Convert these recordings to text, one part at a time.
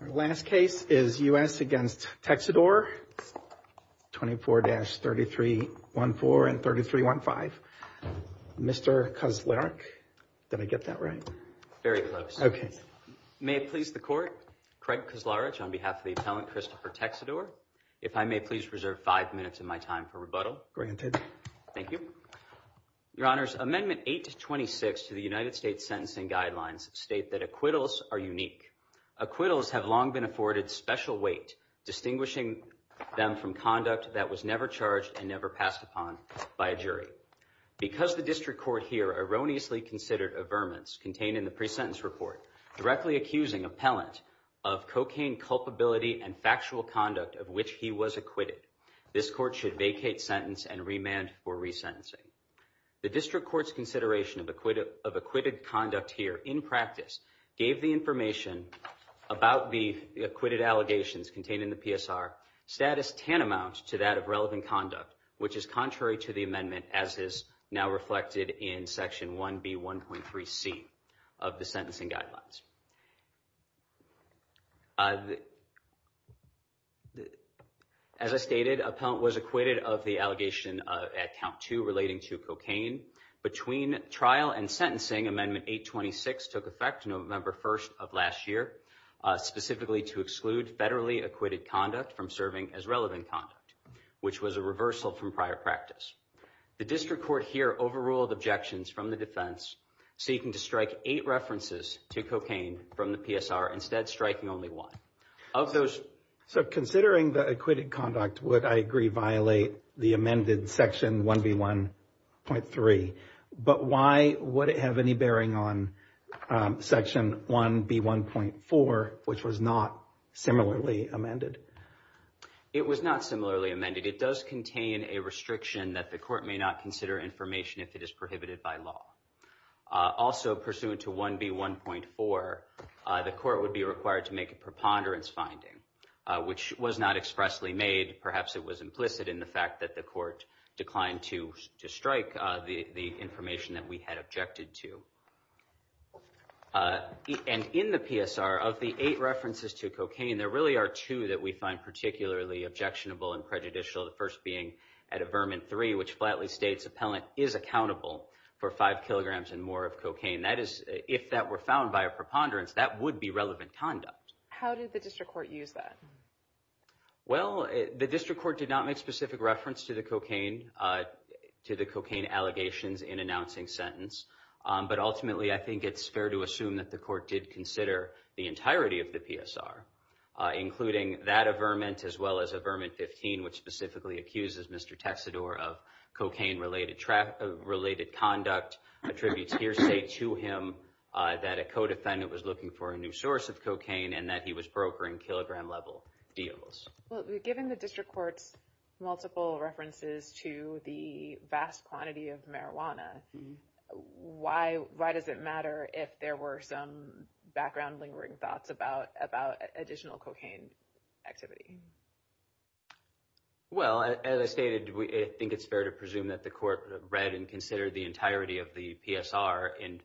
Our last case is U.S. against Texidor, 24-3314 and 3315. Mr. Kozlarek, did I get that right? Very close. May it please the court, Craig Kozlarek on behalf of the appellant Christopher Texidor, if I may please reserve five minutes of my time for rebuttal. Granted. Thank you. Your Honors, Amendment 826 to the United States Sentencing Guidelines state that acquittals are unique. Acquittals have long been afforded special weight, distinguishing them from conduct that was never charged and never passed upon by a jury. Because the district court here erroneously considered averments contained in the pre-sentence report, directly accusing appellant of cocaine culpability and factual conduct of which he was acquitted, this court should vacate sentence and remand for resentencing. The district court's consideration of acquitted conduct here, in practice, gave the information about the acquitted allegations contained in the PSR status tantamount to that of relevant conduct, which is contrary to the amendment as is now reflected in Section 1B1.3C of the Sentencing Guidelines. As I stated, appellant was acquitted of the allegation at count two relating to cocaine. Between trial and sentencing, Amendment 826 took effect November 1st of last year, specifically to exclude federally acquitted conduct from serving as relevant conduct, which was a reversal from prior practice. The district court here overruled objections from the defense, seeking to strike eight references to cocaine from the PSR, instead striking only one. So considering the acquitted conduct would, I agree, violate the amended Section 1B1.3, but why would it have any bearing on Section 1B1.4, which was not similarly amended? It was not similarly amended. It does contain a restriction that the court may not consider information if it is prohibited by law. Also, pursuant to 1B1.4, the court would be required to make a preponderance finding, which was not expressly made. Perhaps it was implicit in the fact that the court declined to strike the information that we had objected to. And in the PSR, of the eight references to cocaine, there really are two that we find particularly objectionable and prejudicial, the first being at Averment 3, which flatly states appellant is accountable for five kilograms and more of cocaine. That is, if that were found by a preponderance, that would be relevant conduct. How did the district court use that? Well, the district court did not make specific reference to the cocaine, to the cocaine allegations in announcing sentence. But ultimately, I think it's fair to assume that the court did consider the entirety of the PSR, including that Averment, as well as Averment 15, which specifically accuses Mr. Texedor of cocaine-related conduct, attributes hearsay to him that a co-defendant was looking for a new source of cocaine and that he was brokering kilogram-level deals. Well, given the district court's multiple references to the vast quantity of marijuana, why does it matter if there were some background lingering thoughts about additional cocaine activity? Well, as I stated, I think it's fair to presume that the court read and considered the entirety of the PSR in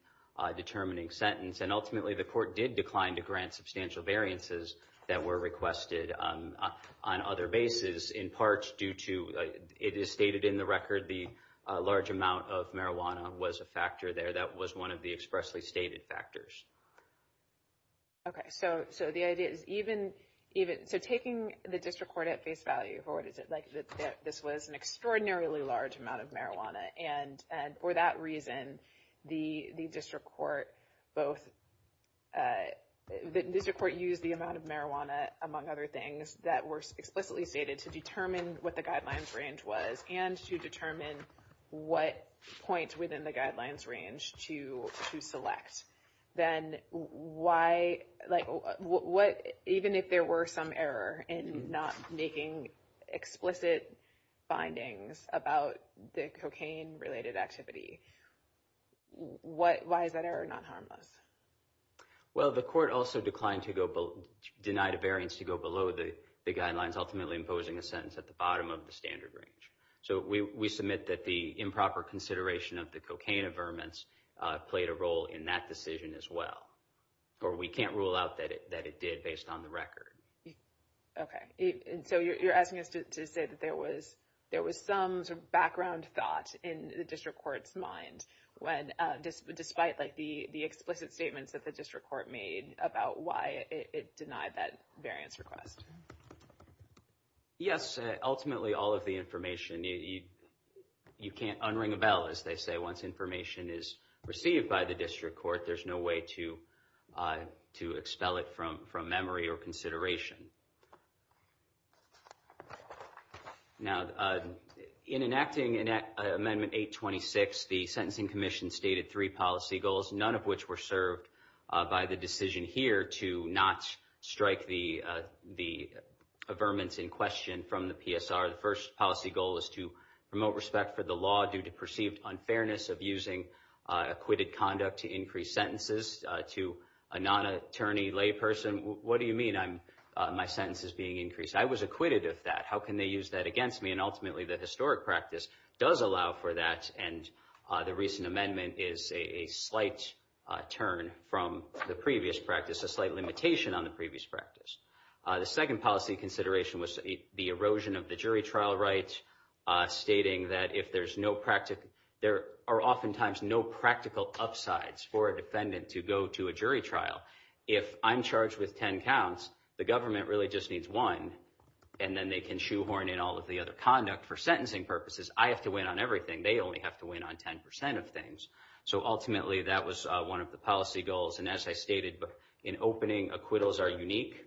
determining sentence. And ultimately, the court did decline to grant substantial variances that were requested on other bases, in part due to, it is stated in the record, the large amount of marijuana was a factor there. That was one of the expressly stated factors. Okay. So the idea is even, so taking the district court at face value, or what is it, like this was an extraordinarily large amount of marijuana, and for that reason, the district court both, the district court used the amount of marijuana, among other things, that were explicitly stated to determine what the guidelines range was and to determine what points within the guidelines range to select. Then why, like what, even if there were some error in not making explicit findings about the cocaine-related activity, why is that error not harmless? Well, the court also declined to go, denied a variance to go below the guidelines, ultimately imposing a sentence at the bottom of the standard range. So we submit that the improper consideration of the cocaine averments played a role in that decision as well. But we can't rule out that it did based on the record. Okay. And so you're asking us to say that there was some sort of background thought in the district court's mind when, despite like the explicit statements that the district court made about why it denied that variance request. Yes. Ultimately, all of the information, you can't unring a bell, as they say. Once information is received by the district court, there's no way to expel it from memory or consideration. Now, in enacting Amendment 826, the Sentencing Commission stated three policy goals, none of which were served by the decision here to not strike the averments in question from the PSR. The first policy goal is to promote respect for the law due to perceived unfairness of using acquitted conduct to increase sentences. To a non-attorney layperson, what do you mean my sentence is being increased? I was acquitted of that. How can they use that against me? And ultimately, the historic practice does allow for that. And the recent amendment is a slight turn from the previous practice, a slight limitation on the previous practice. The second policy consideration was the erosion of the jury trial rights, stating that if there's no practical, there are oftentimes no practical upsides for a defendant to go to a jury trial. If I'm charged with 10 counts, the government really just needs one, and then they can shoehorn in all of the other conduct for sentencing purposes. I have to win on everything. They only have to win on 10% of things. So ultimately, that was one of the policy goals. And as I stated in opening, acquittals are unique.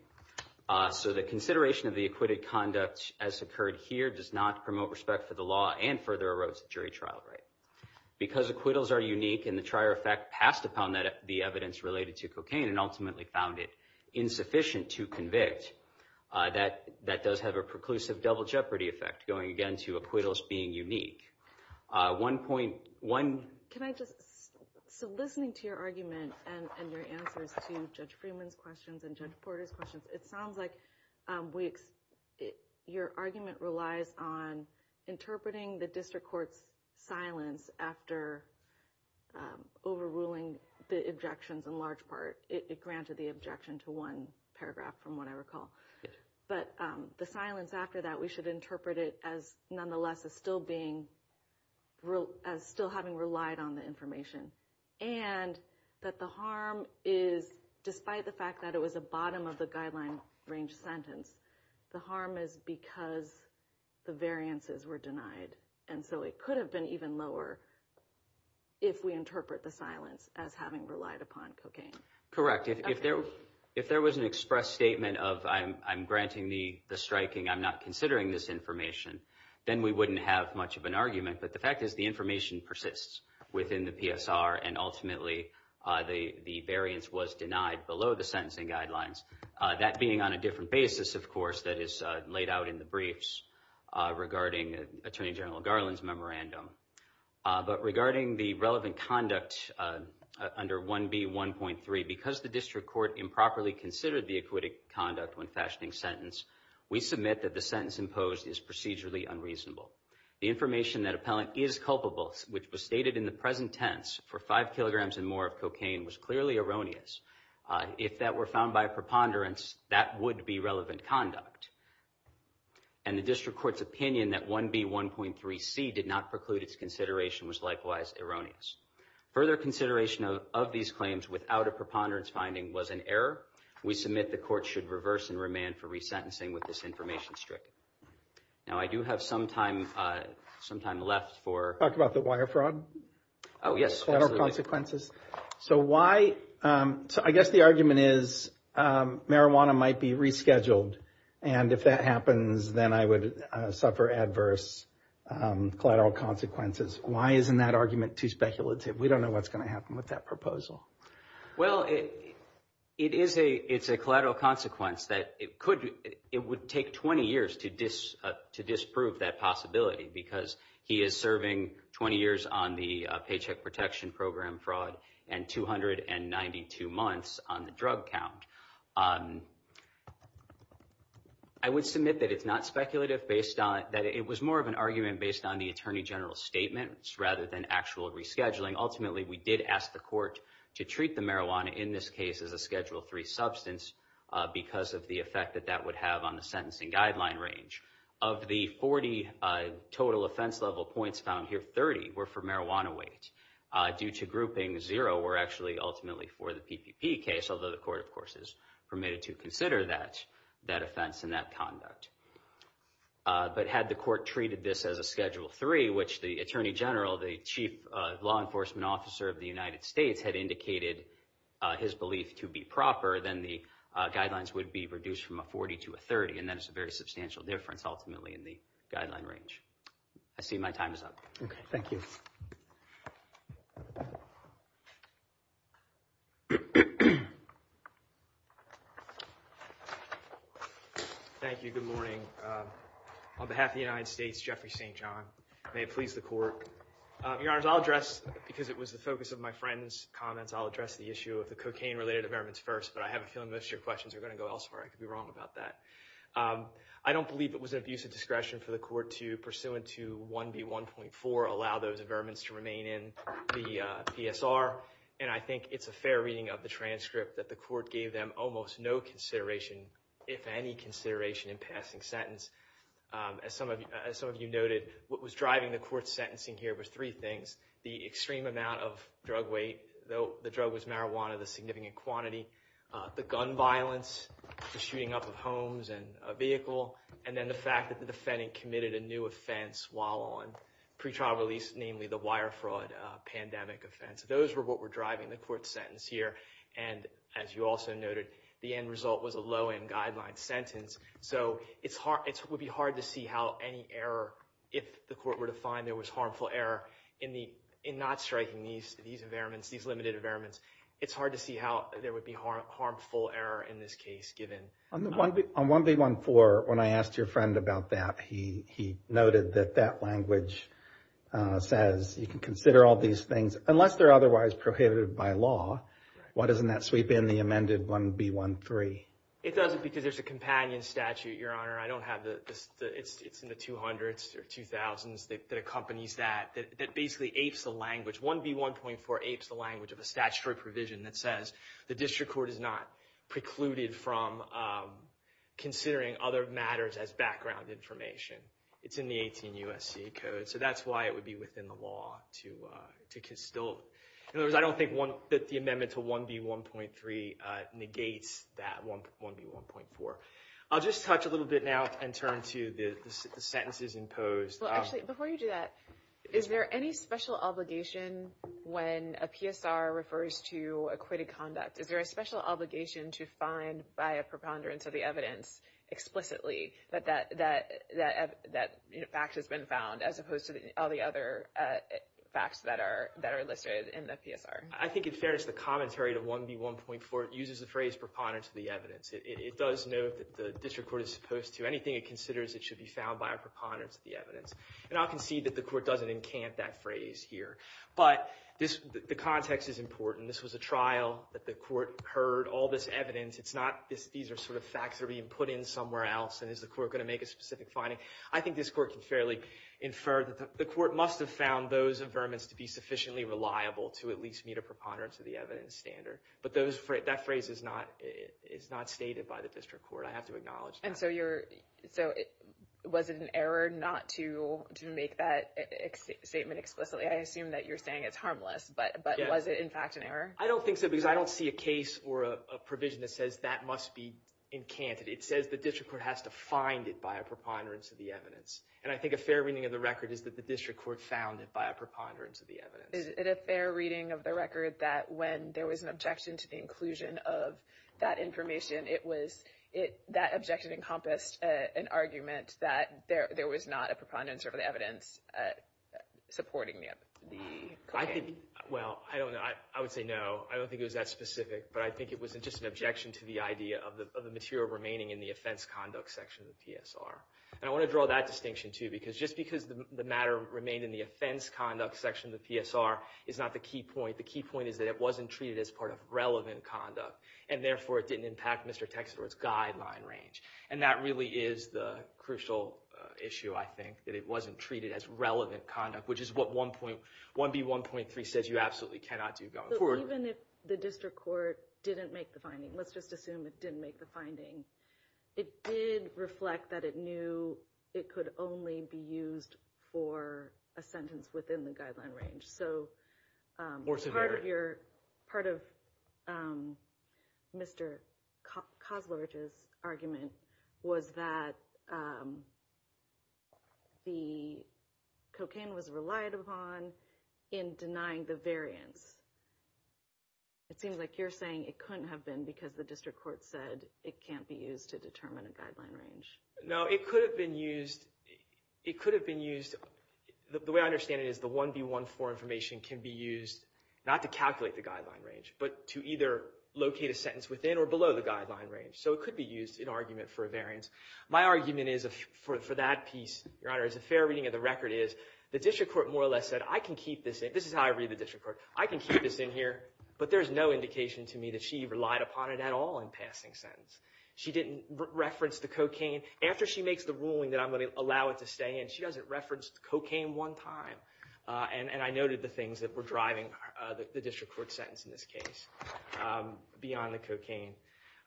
So the consideration of the acquitted conduct as occurred here does not promote respect for the law and further erodes the jury trial right. Because acquittals are unique and the trier effect passed upon the evidence related to cocaine and ultimately found it insufficient to convict, that does have a preclusive double jeopardy effect, going again to acquittals being unique. So listening to your argument and your answers to Judge Freeman's questions and Judge Porter's questions, it sounds like your argument relies on interpreting the district court's silence after overruling the objections in large part. It granted the objection to one paragraph, from what I recall. But the silence after that, we should interpret it as nonetheless as still having relied on the information. And that the harm is, despite the fact that it was a bottom of the guideline range sentence, the harm is because the variances were denied. And so it could have been even lower if we interpret the silence as having relied upon cocaine. Correct. If there was an express statement of I'm granting the striking, I'm not considering this information, then we wouldn't have much of an argument. But the fact is the information persists within the PSR and ultimately the variance was denied below the sentencing guidelines. That being on a different basis, of course, that is laid out in the briefs regarding Attorney General Garland's memorandum. But regarding the relevant conduct under 1B.1.3, because the district court improperly considered the acquittal conduct when fashioning sentence, we submit that the sentence imposed is procedurally unreasonable. The information that appellant is culpable, which was stated in the present tense for five kilograms and more of cocaine, was clearly erroneous. If that were found by preponderance, that would be relevant conduct. And the district court's opinion that 1B.1.3C did not preclude its consideration was likewise erroneous. Further consideration of these claims without a preponderance finding was an error. We submit the court should reverse and remand for resentencing with this information stricken. Now, I do have some time left for. Talk about the wire fraud. Oh, yes. So why? I guess the argument is marijuana might be rescheduled. And if that happens, then I would suffer adverse collateral consequences. Why isn't that argument too speculative? We don't know what's going to happen with that proposal. Well, it is a it's a collateral consequence that it could. It would take 20 years to dis to disprove that possibility because he is serving 20 years on the Paycheck Protection Program fraud and 292 months on the drug count. I would submit that it's not speculative based on that. It was more of an argument based on the attorney general's statements rather than actual rescheduling. Ultimately, we did ask the court to treat the marijuana in this case as a Schedule three substance because of the effect that that would have on the sentencing guideline range. Of the 40 total offense level points found here, 30 were for marijuana weight due to grouping. Zero were actually ultimately for the PPP case, although the court, of course, is permitted to consider that that offense and that conduct. But had the court treated this as a Schedule three, which the attorney general, the chief law enforcement officer of the United States had indicated his belief to be proper, then the guidelines would be reduced from a 40 to a 30. And that is a very substantial difference, ultimately, in the guideline range. I see my time is up. Thank you. Thank you. Thank you. Good morning. On behalf of the United States, Jeffrey St. John, may it please the court. Your Honor, I'll address, because it was the focus of my friend's comments, I'll address the issue of the cocaine related amendments first. But I have a feeling most of your questions are going to go elsewhere. I could be wrong about that. I don't believe it was an abuse of discretion for the court to, pursuant to 1B1.4, allow those amendments to remain in the PSR. And I think it's a fair reading of the transcript that the court gave them almost no consideration, if any consideration, in passing sentence. As some of you noted, what was driving the court's sentencing here was three things. The extreme amount of drug weight, though the drug was marijuana, the significant quantity. The gun violence, the shooting up of homes and a vehicle. And then the fact that the defendant committed a new offense while on pretrial release, namely the wire fraud pandemic offense. Those were what were driving the court's sentence here. And as you also noted, the end result was a low end guideline sentence. So it's hard. It would be hard to see how any error, if the court were to find there was harmful error in the in not striking these these amendments, these limited amendments. It's hard to see how there would be harmful error in this case, given. On 1B1.4, when I asked your friend about that, he noted that that language says you can consider all these things unless they're otherwise prohibited by law. Why doesn't that sweep in the amended 1B1.3? It doesn't because there's a companion statute, Your Honor. I don't have the it's in the 200s or 2000s that accompanies that. That basically apes the language. 1B1.4 apes the language of a statutory provision that says the district court is not precluded from considering other matters as background information. It's in the 18 U.S.C. code. So that's why it would be within the law to still. In other words, I don't think that the amendment to 1B1.3 negates that 1B1.4. I'll just touch a little bit now and turn to the sentences imposed. Well, actually, before you do that, is there any special obligation when a PSR refers to acquitted conduct? Is there a special obligation to find by a preponderance of the evidence explicitly that that that that fact has been found as opposed to all the other facts that are that are listed in the PSR? I think in fairness, the commentary to 1B1.4 uses the phrase preponderance of the evidence. It does note that the district court is supposed to anything it considers it should be found by a preponderance of the evidence. And I can see that the court doesn't encamp that phrase here. But this the context is important. This was a trial that the court heard all this evidence. It's not this. These are sort of facts that are being put in somewhere else. And is the court going to make a specific finding? I think this court can fairly infer that the court must have found those affirmance to be sufficiently reliable to at least meet a preponderance of the evidence standard. But that phrase is not stated by the district court. I have to acknowledge that. And so was it an error not to make that statement explicitly? I assume that you're saying it's harmless, but was it in fact an error? I don't think so because I don't see a case or a provision that says that must be encanted. It says the district court has to find it by a preponderance of the evidence. And I think a fair reading of the record is that the district court found it by a preponderance of the evidence. Is it a fair reading of the record that when there was an objection to the inclusion of that information, that objection encompassed an argument that there was not a preponderance of the evidence supporting the claim? Well, I don't know. I would say no. I don't think it was that specific. But I think it was just an objection to the idea of the material remaining in the offense conduct section of the PSR. And I want to draw that distinction, too, because just because the matter remained in the offense conduct section of the PSR is not the key point. The key point is that it wasn't treated as part of relevant conduct. And therefore, it didn't impact Mr. Texeter's guideline range. And that really is the crucial issue, I think, that it wasn't treated as relevant conduct, which is what 1B1.3 says you absolutely cannot do going forward. Even if the district court didn't make the finding, let's just assume it didn't make the finding, it did reflect that it knew it could only be used for a sentence within the guideline range. So part of Mr. Kozlowich's argument was that the cocaine was relied upon in denying the variance. It seems like you're saying it couldn't have been because the district court said it can't be used to determine a guideline range. No, it could have been used. The way I understand it is the 1B1.4 information can be used not to calculate the guideline range, but to either locate a sentence within or below the guideline range. So it could be used in argument for a variance. My argument for that piece, Your Honor, as a fair reading of the record is the district court more or less said I can keep this in. This is how I read the district court. I can keep this in here, but there's no indication to me that she relied upon it at all in passing sentence. She didn't reference the cocaine. After she makes the ruling that I'm going to allow it to stay in, she doesn't reference the cocaine one time, and I noted the things that were driving the district court sentence in this case beyond the cocaine.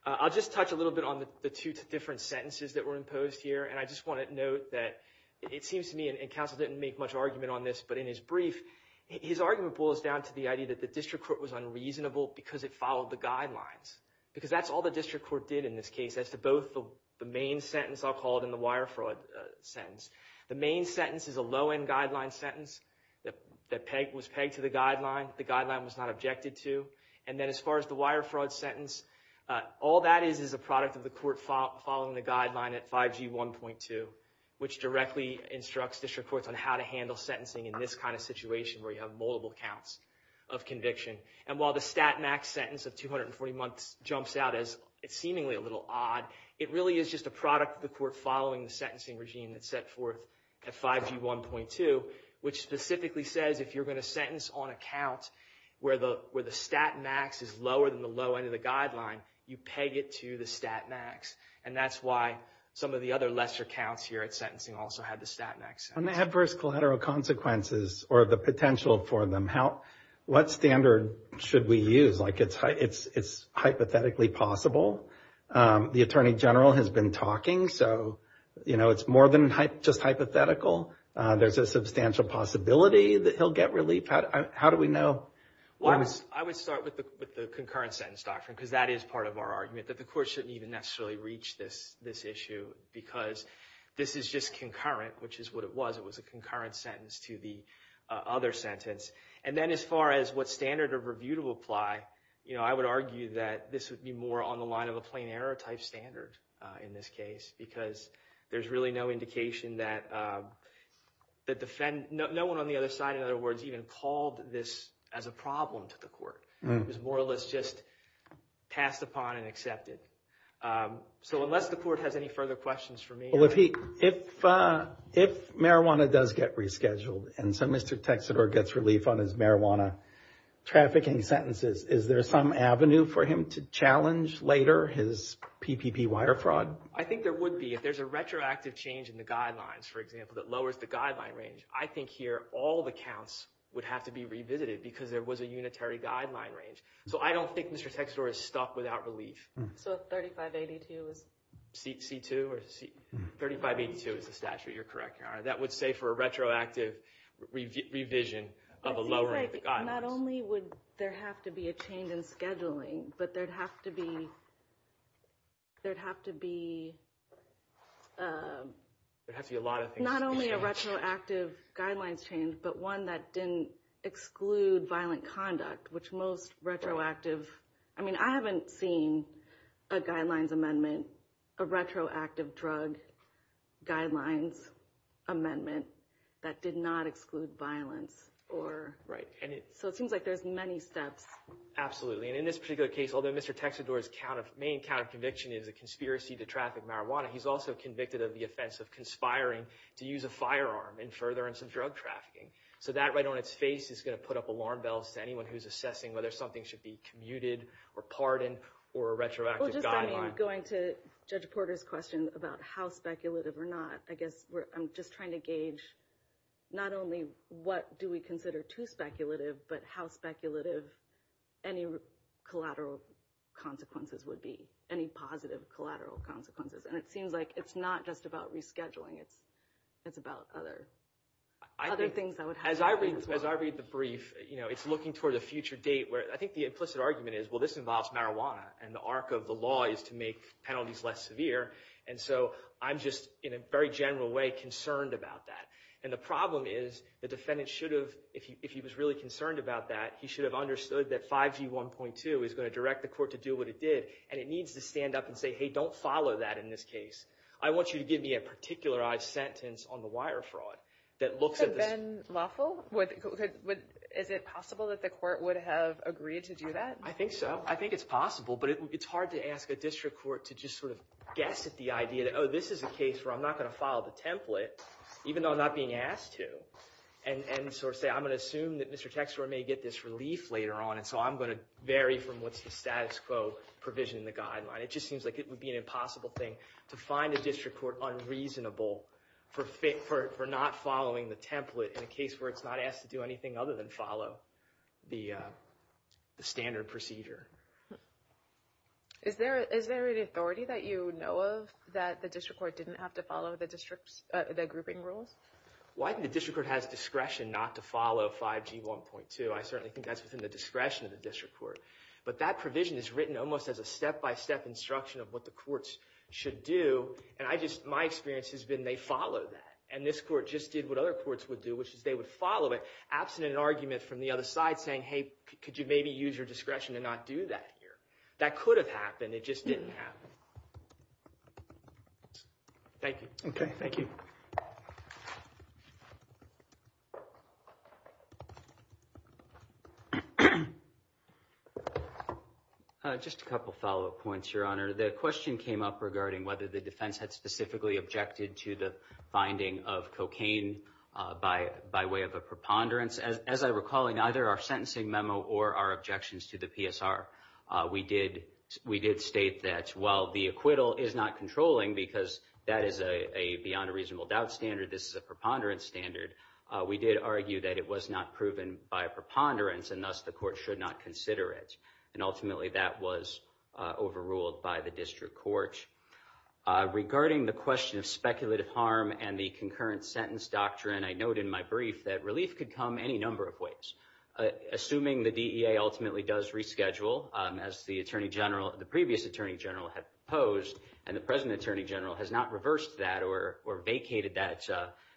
I'll just touch a little bit on the two different sentences that were imposed here, and I just want to note that it seems to me, and counsel didn't make much argument on this, but in his brief, his argument boils down to the idea that the district court was unreasonable because it followed the guidelines, because that's all the district court did in this case as to both the main sentence I'll call it and the wire fraud sentence. The main sentence is a low-end guideline sentence that was pegged to the guideline. The guideline was not objected to, and then as far as the wire fraud sentence, all that is is a product of the court following the guideline at 5G1.2, which directly instructs district courts on how to handle sentencing in this kind of situation where you have multiple counts of conviction. And while the stat max sentence of 240 months jumps out as seemingly a little odd, it really is just a product of the court following the sentencing regime that's set forth at 5G1.2, which specifically says if you're going to sentence on a count where the stat max is lower than the low end of the guideline, you peg it to the stat max, and that's why some of the other lesser counts here at sentencing also had the stat max sentence. On the adverse collateral consequences or the potential for them, what standard should we use? It's hypothetically possible. The attorney general has been talking, so it's more than just hypothetical. There's a substantial possibility that he'll get relief. How do we know? Well, I would start with the concurrent sentence doctrine because that is part of our argument, that the court shouldn't even necessarily reach this issue because this is just concurrent, which is what it was. It was a concurrent sentence to the other sentence. And then as far as what standard of review to apply, you know, I would argue that this would be more on the line of a plain error type standard in this case because there's really no indication that the defend— no one on the other side, in other words, even called this as a problem to the court. It was more or less just passed upon and accepted. So unless the court has any further questions for me— Well, if he—if marijuana does get rescheduled and so Mr. Texedor gets relief on his marijuana trafficking sentences, is there some avenue for him to challenge later his PPP wire fraud? I think there would be if there's a retroactive change in the guidelines, for example, that lowers the guideline range. I think here all the counts would have to be revisited because there was a unitary guideline range. So I don't think Mr. Texedor is stuck without relief. So 3582 is— C2 or C—3582 is the statute. You're correct. That would say for a retroactive revision of a lowering of the guidelines. It seems like not only would there have to be a change in scheduling, but there'd have to be—there'd have to be— There'd have to be a lot of things to be changed. A retroactive guidelines change, but one that didn't exclude violent conduct, which most retroactive— I mean, I haven't seen a guidelines amendment, a retroactive drug guidelines amendment that did not exclude violence or— Right. So it seems like there's many steps. Absolutely. And in this particular case, although Mr. Texedor's main counterconviction is a conspiracy to traffic marijuana, he's also convicted of the offense of conspiring to use a firearm in furtherance of drug trafficking. So that right on its face is going to put up alarm bells to anyone who's assessing whether something should be commuted or pardoned or a retroactive guideline. Well, just going to Judge Porter's question about how speculative or not, I guess I'm just trying to gauge not only what do we consider too speculative, but how speculative any collateral consequences would be, any positive collateral consequences. And it seems like it's not just about rescheduling. It's about other things that would happen as well. As I read the brief, it's looking toward a future date where—I think the implicit argument is, well, this involves marijuana, and the arc of the law is to make penalties less severe. And so I'm just, in a very general way, concerned about that. And the problem is the defendant should have—if he was really concerned about that, he should have understood that 5G 1.2 is going to direct the court to do what it did, and it needs to stand up and say, hey, don't follow that in this case. I want you to give me a particularized sentence on the wire fraud that looks at this— So Ben Lawful, is it possible that the court would have agreed to do that? I think so. I think it's possible. But it's hard to ask a district court to just sort of guess at the idea that, oh, this is a case where I'm not going to follow the template, even though I'm not being asked to, and sort of say, I'm going to assume that Mr. Texler may get this relief later on, and so I'm going to vary from what's the status quo provision in the guideline. It just seems like it would be an impossible thing to find a district court unreasonable for not following the template in a case where it's not asked to do anything other than follow the standard procedure. Is there an authority that you know of that the district court didn't have to follow the grouping rules? Well, I think the district court has discretion not to follow 5G 1.2. I certainly think that's within the discretion of the district court. But that provision is written almost as a step-by-step instruction of what the courts should do, and my experience has been they follow that. And this court just did what other courts would do, which is they would follow it, absent an argument from the other side saying, hey, could you maybe use your discretion to not do that here? That could have happened. It just didn't happen. Thank you. Okay. Thank you. Just a couple of follow-up points, Your Honor. The question came up regarding whether the defense had specifically objected to the finding of cocaine by way of a preponderance. As I recall in either our sentencing memo or our objections to the PSR, we did state that while the acquittal is not controlling because that is a beyond-a-reasonable-doubt standard, this is a preponderance standard, we did argue that it was not proven by a preponderance, and thus the court should not consider it. And ultimately that was overruled by the district court. Regarding the question of speculative harm and the concurrent sentence doctrine, I note in my brief that relief could come any number of ways. Assuming the DEA ultimately does reschedule, as the previous Attorney General had proposed, and the present Attorney General has not reversed that or vacated that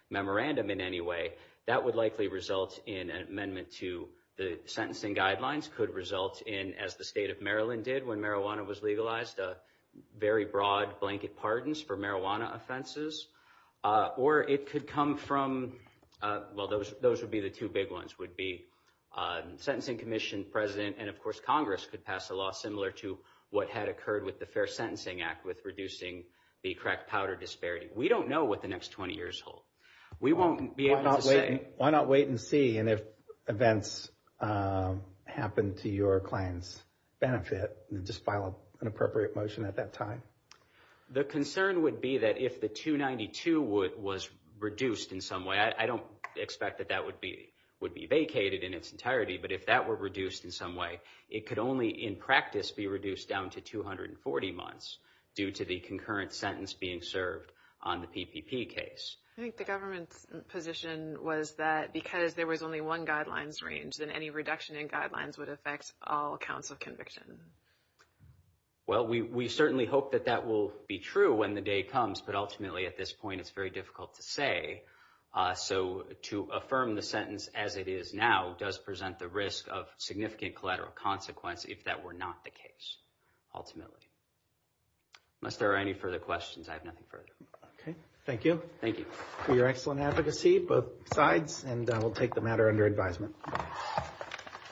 memorandum in any way, that would likely result in an amendment to the sentencing guidelines, could result in, as the state of Maryland did when marijuana was legalized, very broad blanket pardons for marijuana offenses. Or it could come from, well, those would be the two big ones, would be sentencing commission president and, of course, Congress could pass a law similar to what had occurred with the Fair Sentencing Act with reducing the crack powder disparity. We don't know what the next 20 years hold. We won't be able to say. Why not wait and see, and if events happen to your client's benefit, just file an appropriate motion at that time? The concern would be that if the 292 was reduced in some way, I don't expect that that would be vacated in its entirety, but if that were reduced in some way, it could only, in practice, be reduced down to 240 months due to the concurrent sentence being served on the PPP case. I think the government's position was that because there was only one guidelines range, then any reduction in guidelines would affect all counts of conviction. Well, we certainly hope that that will be true when the day comes, but ultimately at this point it's very difficult to say. So to affirm the sentence as it is now does present the risk of significant collateral consequence if that were not the case, ultimately. Unless there are any further questions, I have nothing further. Okay. Thank you. Thank you. For your excellent advocacy, both sides, and we'll take the matter under advisement.